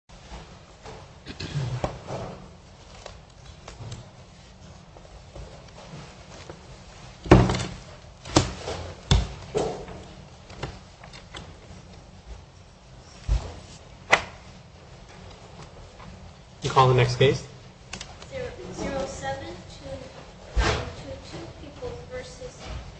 0722 people v.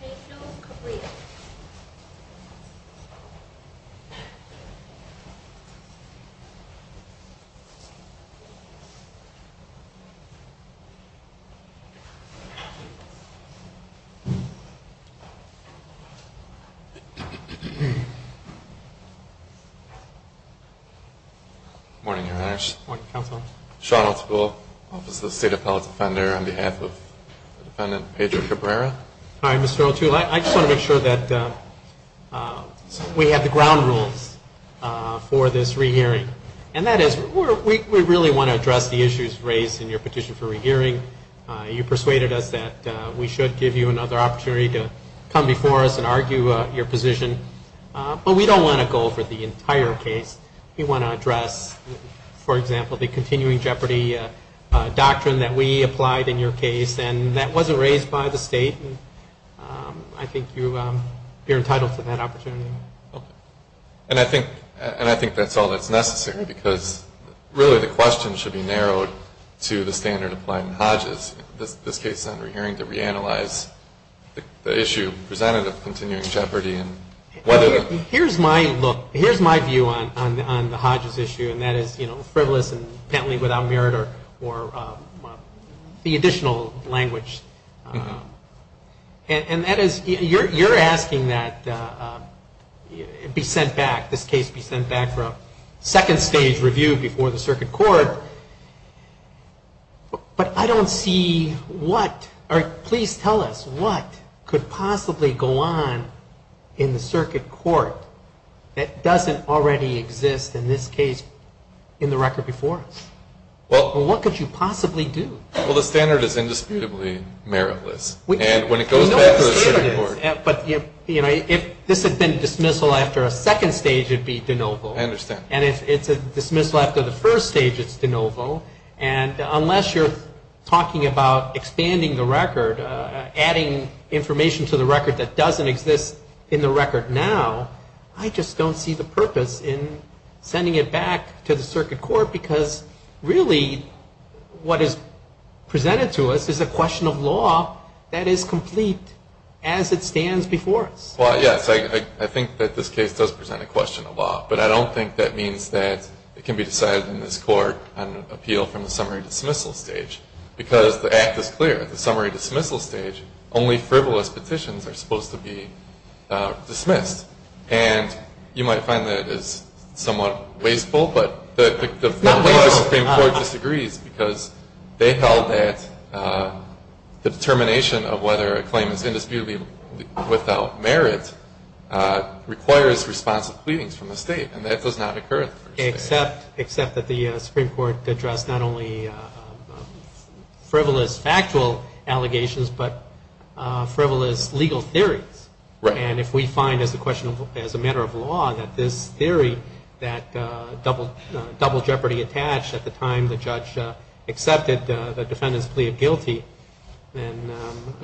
Pedro Cabrera Good morning, Your Honors. Good morning, Counsel. Sean O'Toole, Office of the State Appellate Defender, on behalf of the defendant Pedro Cabrera. Hi, Mr. O'Toole. I just want to make sure that we have the ground rules for this rehearing. And that is we really want to address the issues raised in your petition for rehearing. You persuaded us that we should give you another opportunity to come before us and argue your position. But we don't want to go over the entire case. We want to address, for example, the continuing jeopardy doctrine that we applied in your case and that wasn't raised by the state. I think you're entitled to that opportunity. And I think that's all that's necessary because really the question should be narrowed to the standard applied in Hodges. This case is under hearing to reanalyze the issue presented of continuing jeopardy. Here's my look. Here's my view on the Hodges issue. And that is frivolous and penitently without merit or the additional language. And that is you're asking that it be sent back, this case be sent back for a second stage review before the circuit court. But I don't see what or please tell us what could possibly go on in the circuit court that doesn't already exist, in this case, in the record before us. Well, what could you possibly do? Well, the standard is indisputably meritless. And when it goes back to the circuit court. But, you know, if this had been dismissal after a second stage, it would be de novo. I understand. And if it's a dismissal after the first stage, it's de novo. And unless you're talking about expanding the record, adding information to the record that doesn't exist in the record now, I just don't see the purpose in sending it back to the circuit court. Because, really, what is presented to us is a question of law that is complete as it stands before us. Well, yes, I think that this case does present a question of law. But I don't think that means that it can be decided in this court on appeal from the summary dismissal stage. Because the act is clear. At the summary dismissal stage, only frivolous petitions are supposed to be dismissed. And you might find that it is somewhat wasteful. But the Supreme Court disagrees. Because they held that the determination of whether a claim is indisputably without merit requires responsive pleadings from the state. And that does not occur at the first stage. Except that the Supreme Court addressed not only frivolous factual allegations but frivolous legal theories. Right. And if we find, as a matter of law, that this theory, that double jeopardy attached at the time the judge accepted the defendant's plea of guilty, then...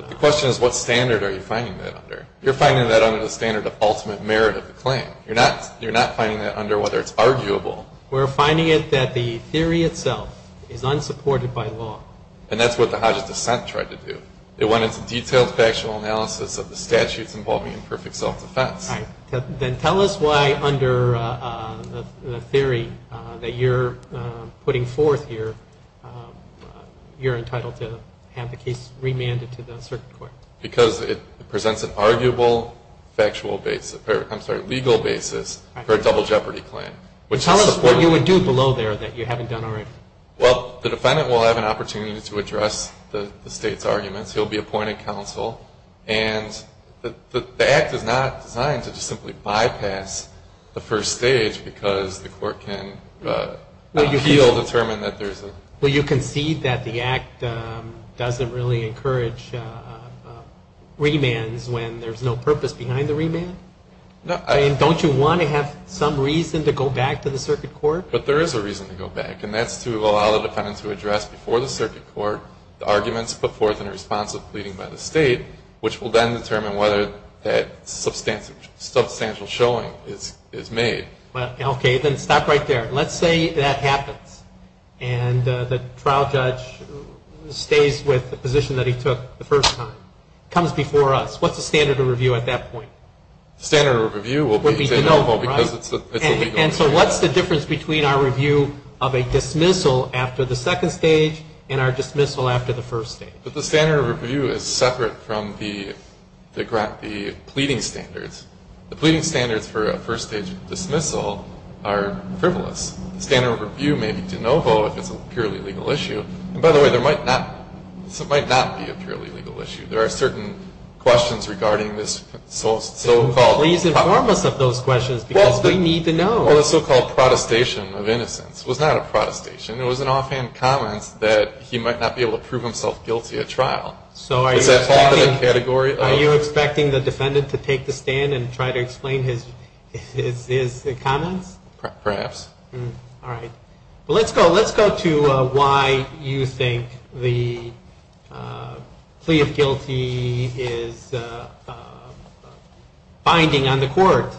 The question is, what standard are you finding that under? You're finding that under the standard of ultimate merit of the claim. You're not finding that under whether it's arguable. We're finding it that the theory itself is unsupported by law. And that's what the Hodges dissent tried to do. It went into detailed factual analysis of the statutes involving imperfect self-defense. Right. Then tell us why, under the theory that you're putting forth here, you're entitled to have the case remanded to the circuit court. Because it presents an arguable factual basis or, I'm sorry, legal basis for a double jeopardy claim. Tell us what you would do below there that you haven't done already. Well, the defendant will have an opportunity to address the state's arguments. He'll be appointed counsel. And the act is not designed to just simply bypass the first stage because the court can appeal, determine that there's a... Well, you concede that the act doesn't really encourage remands when there's no purpose behind the remand? No. Don't you want to have some reason to go back to the circuit court? But there is a reason to go back, and that's to allow the defendant to address before the circuit court the arguments put forth in response of pleading by the state, which will then determine whether that substantial showing is made. Okay. Then stop right there. Let's say that happens, and the trial judge stays with the position that he took the first time. It comes before us. What's the standard of review at that point? The standard of review will be... Would be denial, right? And so what's the difference between our review of a dismissal after the second stage and our dismissal after the first stage? The standard of review is separate from the pleading standards. The pleading standards for a first-stage dismissal are frivolous. The standard of review may be de novo if it's a purely legal issue. And by the way, there might not be a purely legal issue. There are certain questions regarding this so-called... Please inform us of those questions because we need to know. Well, the so-called protestation of innocence was not a protestation. It was an offhand comment that he might not be able to prove himself guilty at trial. Is that part of the category? Are you expecting the defendant to take the stand and try to explain his comments? Perhaps. All right. Well, let's go to why you think the plea of guilty is binding on the court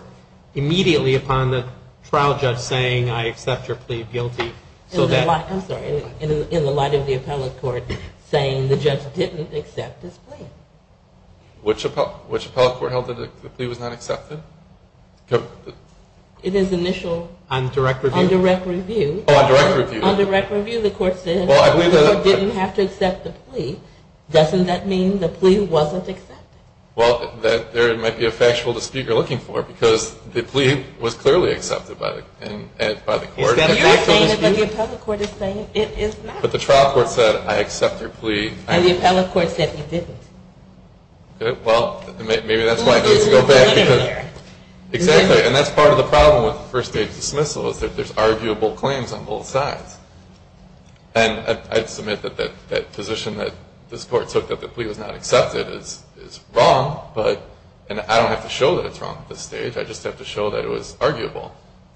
immediately upon the trial judge saying, I accept your plea of guilty so that... I'm sorry. In the light of the appellate court saying the judge didn't accept his plea. Which appellate court held that the plea was not accepted? It is initial... On direct review. Oh, on direct review. On direct review, the court said... Well, I believe that... The court didn't have to accept the plea. Doesn't that mean the plea wasn't accepted? Well, there might be a factual dispute you're looking for because the plea was clearly accepted by the court. Is that a factual dispute? He's not saying it, but the appellate court is saying it is not. But the trial court said, I accept your plea. And the appellate court said he didn't. Okay. Well, maybe that's why it doesn't go back. Well, it doesn't go back in there. Exactly. And that's part of the problem with the first-stage dismissal is that there's arguable claims on both sides. And I'd submit that that position that this court took that the plea was not accepted is wrong, and I don't have to show that it's wrong at this stage. I just have to show that it was arguable.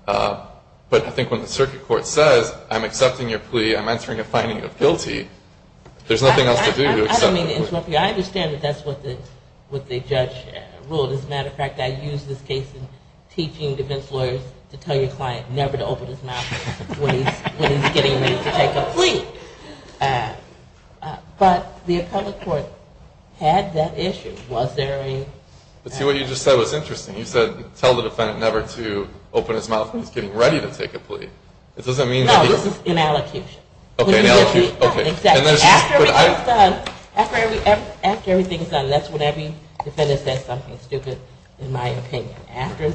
But I think when the circuit court says, I'm accepting your plea, I'm answering a finding of guilty, there's nothing else to do except... I don't mean to interrupt you. I understand that that's what the judge ruled. As a matter of fact, I used this case in teaching defense lawyers to tell your client never to open his mouth when he's getting ready to take a plea. But the appellate court had that issue. Was there a... See, what you just said was interesting. You said tell the defendant never to open his mouth when he's getting ready to take a plea. It doesn't mean... No, this is in allocution. Okay, in allocution. Exactly. After everything is done, that's when every defendant says something stupid, in my opinion. After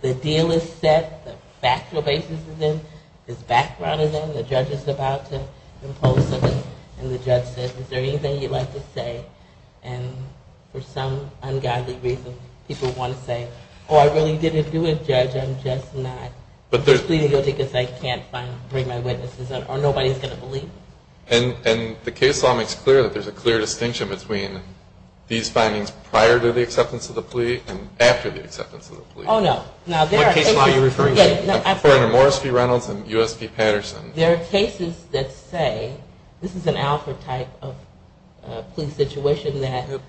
the deal is set, the factual basis is in, his background is in, the judge is about to impose something, and the judge says, is there anything you'd like to say? And for some ungodly reason, people want to say, oh, I really didn't do it, Judge, I'm just not. I'm just pleading guilty because I can't bring my witnesses, or nobody's going to believe me. And the case law makes clear that there's a clear distinction between these findings prior to the acceptance of the plea and after the acceptance of the plea. Oh, no. What case law are you referring to? I'm referring to Morris v. Reynolds and U.S. v. Patterson. There are cases that say, this is an alpha type of plea situation that,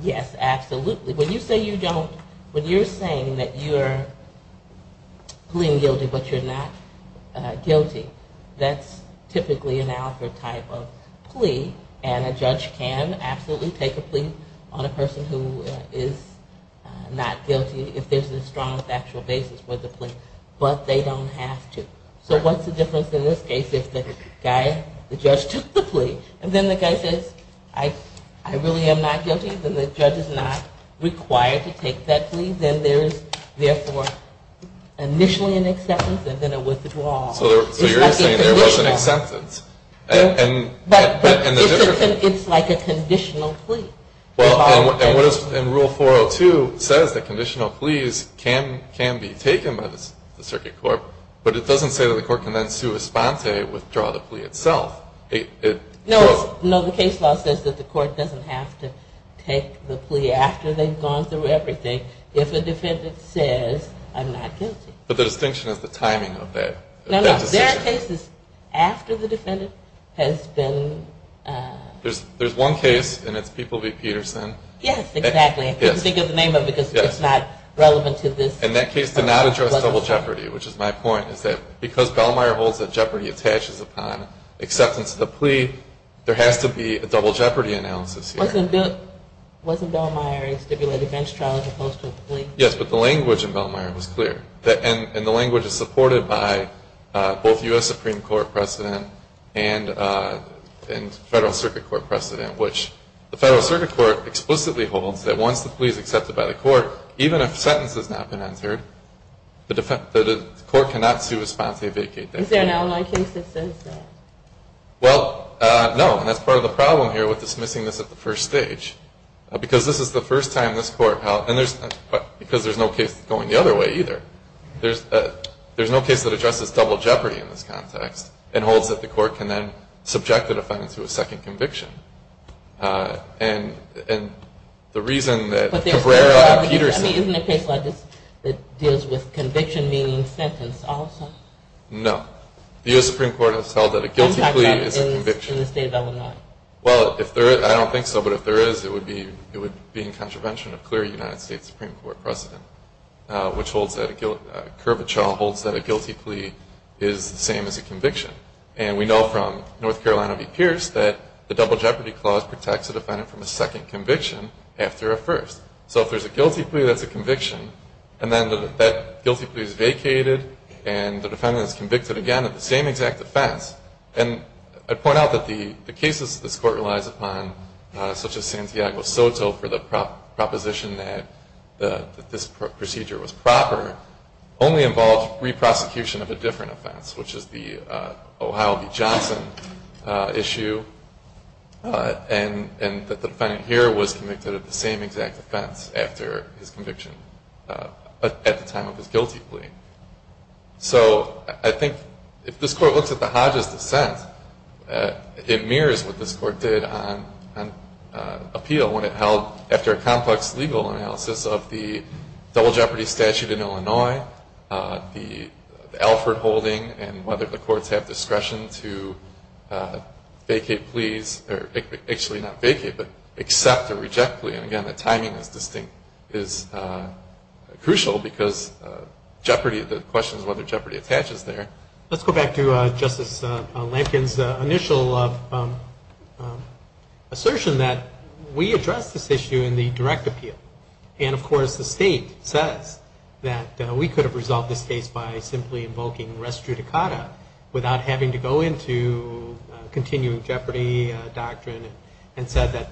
yes, absolutely. When you say you don't, when you're saying that you're pleading guilty but you're not guilty, that's typically an alpha type of plea, and a judge can absolutely take a plea on a person who is not guilty if there's a strong factual basis for the plea, but they don't have to. So what's the difference in this case if the guy, the judge took the plea, and then the guy says, I really am not guilty, then the judge is not required to take that plea, then there's, therefore, initially an acceptance, and then a withdrawal. So you're saying there was an acceptance. But it's like a conditional plea. Well, and what is in Rule 402 says that conditional pleas can be taken by the circuit court, but it doesn't say that the court can then sui sponte, withdraw the plea itself. No, the case law says that the court doesn't have to take the plea after they've gone through everything if a defendant says, I'm not guilty. But the distinction is the timing of that decision. No, no, there are cases after the defendant has been... There's one case, and it's People v. Peterson. Yes, exactly. I couldn't think of the name of it because it's not relevant to this. And that case did not address double jeopardy, which is my point, is that because Bellmeyer holds that jeopardy attaches upon acceptance of the plea, there has to be a double jeopardy analysis here. Wasn't Bellmeyer's stipulated bench trial as opposed to the plea? Yes, but the language in Bellmeyer was clear, and the language is supported by both U.S. Supreme Court precedent and Federal Circuit Court precedent, which the Federal Circuit Court explicitly holds that once the plea is accepted by the court, even if a sentence has not been entered, the court cannot sui sponte vacate that plea. Is there an online case that says that? Well, no, and that's part of the problem here with dismissing this at the first stage, because this is the first time this court held... because there's no case that's going the other way either. There's no case that addresses double jeopardy in this context and holds that the court can then subject the defendant to a second conviction. And the reason that Cabrera and Peterson... But isn't there a case like this that deals with conviction meaning sentence also? No. The U.S. Supreme Court has held that a guilty plea is a conviction. I'm talking about in the state of Illinois. Well, I don't think so, but if there is, it would be in contravention of clear United States Supreme Court precedent, which holds that a guilty plea is the same as a conviction. And we know from North Carolina v. Pierce that the double jeopardy clause protects a defendant from a second conviction after a first. So if there's a guilty plea, that's a conviction. And then that guilty plea is vacated, and the defendant is convicted again of the same exact offense. And I'd point out that the cases that this court relies upon, such as Santiago Soto for the proposition that this procedure was proper, only involved re-prosecution of a different offense, which is the Ohio v. Johnson issue. And the defendant here was convicted of the same exact offense after his conviction, at the time of his guilty plea. So I think if this court looks at the Hodges dissent, it mirrors what this court did on appeal when it held, after a complex legal analysis of the double jeopardy statute in Illinois, the Alford holding and whether the courts have discretion to vacate pleas, or actually not vacate, but accept or reject plea. And again, the timing is distinct, is crucial, because the question is whether jeopardy attaches there. Let's go back to Justice Lampkin's initial assertion that we address this issue in the direct appeal. And of course, the state says that we could have resolved this case by simply invoking res judicata, without having to go into continuing jeopardy doctrine, and said that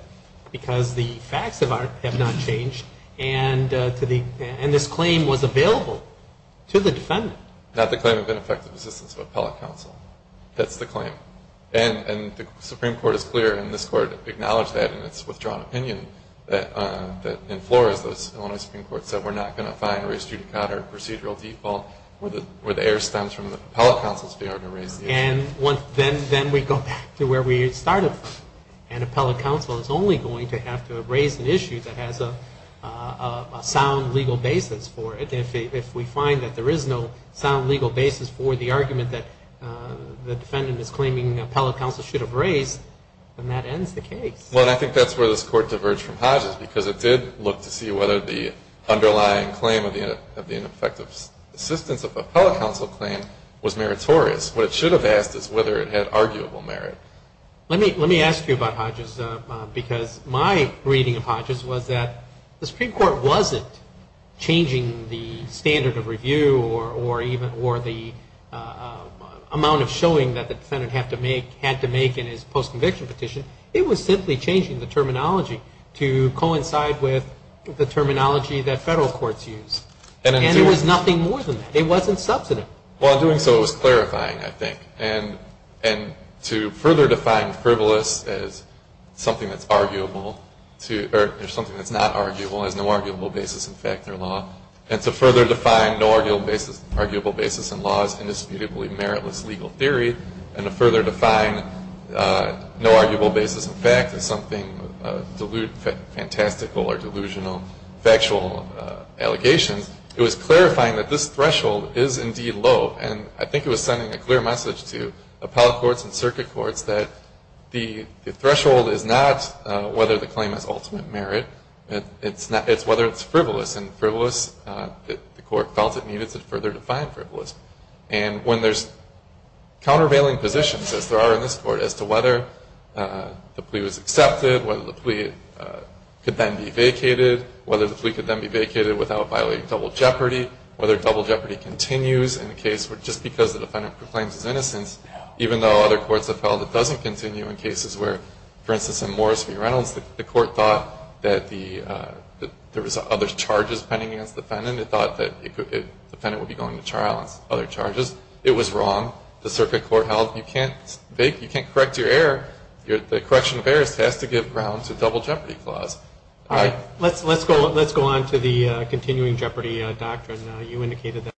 because the facts have not changed, and this claim was available to the defendant. Not the claim of ineffective assistance of appellate counsel. That's the claim. And the Supreme Court is clear, and this court acknowledged that in its withdrawn opinion, that in floor, as the Illinois Supreme Court said, we're not going to find res judicata or procedural default, where the error stems from the appellate counsel's failure to raise the issue. And then we go back to where we started from, and appellate counsel is only going to have to raise an issue that has a sound legal basis for it. If we find that there is no sound legal basis for the argument that the defendant is claiming appellate counsel should have raised, then that ends the case. Well, I think that's where this court diverged from Hodges, because it did look to see whether the underlying claim of the ineffective assistance of appellate counsel claim was meritorious. What it should have asked is whether it had arguable merit. Let me ask you about Hodges, because my reading of Hodges was that the Supreme Court wasn't changing the standard of review or the amount of showing that the defendant had to make in his post-conviction petition. It was simply changing the terminology to coincide with the terminology that federal courts use. And it was nothing more than that. It wasn't substantive. Well, in doing so, it was clarifying, I think. And to further define frivolous as something that's arguable, or something that's not arguable as no arguable basis in fact or law, and to further define no arguable basis in law as indisputably meritless legal theory, and to further define no arguable basis in fact as something delude fantastical or delusional factual allegations, it was clarifying that this threshold is indeed low. And I think it was sending a clear message to appellate courts and circuit courts that the threshold is not whether the claim is ultimate merit. It's whether it's frivolous. And frivolous, the court felt it needed to further define frivolous. And when there's countervailing positions, as there are in this court, as to whether the plea was accepted, whether the plea could then be vacated, whether the plea could then be vacated without violating double jeopardy, whether double jeopardy continues in a case where just because the defendant proclaims his innocence, even though other courts have held it doesn't continue in cases where, for instance, in Morris v. Reynolds, the court thought that there was other charges pending against the defendant. It thought that the defendant would be going to trial on other charges. It was wrong. The circuit court held you can't correct your error. The correction of errors has to give ground to double jeopardy clause. All right. Let's go on to the continuing jeopardy doctrine. You indicated that.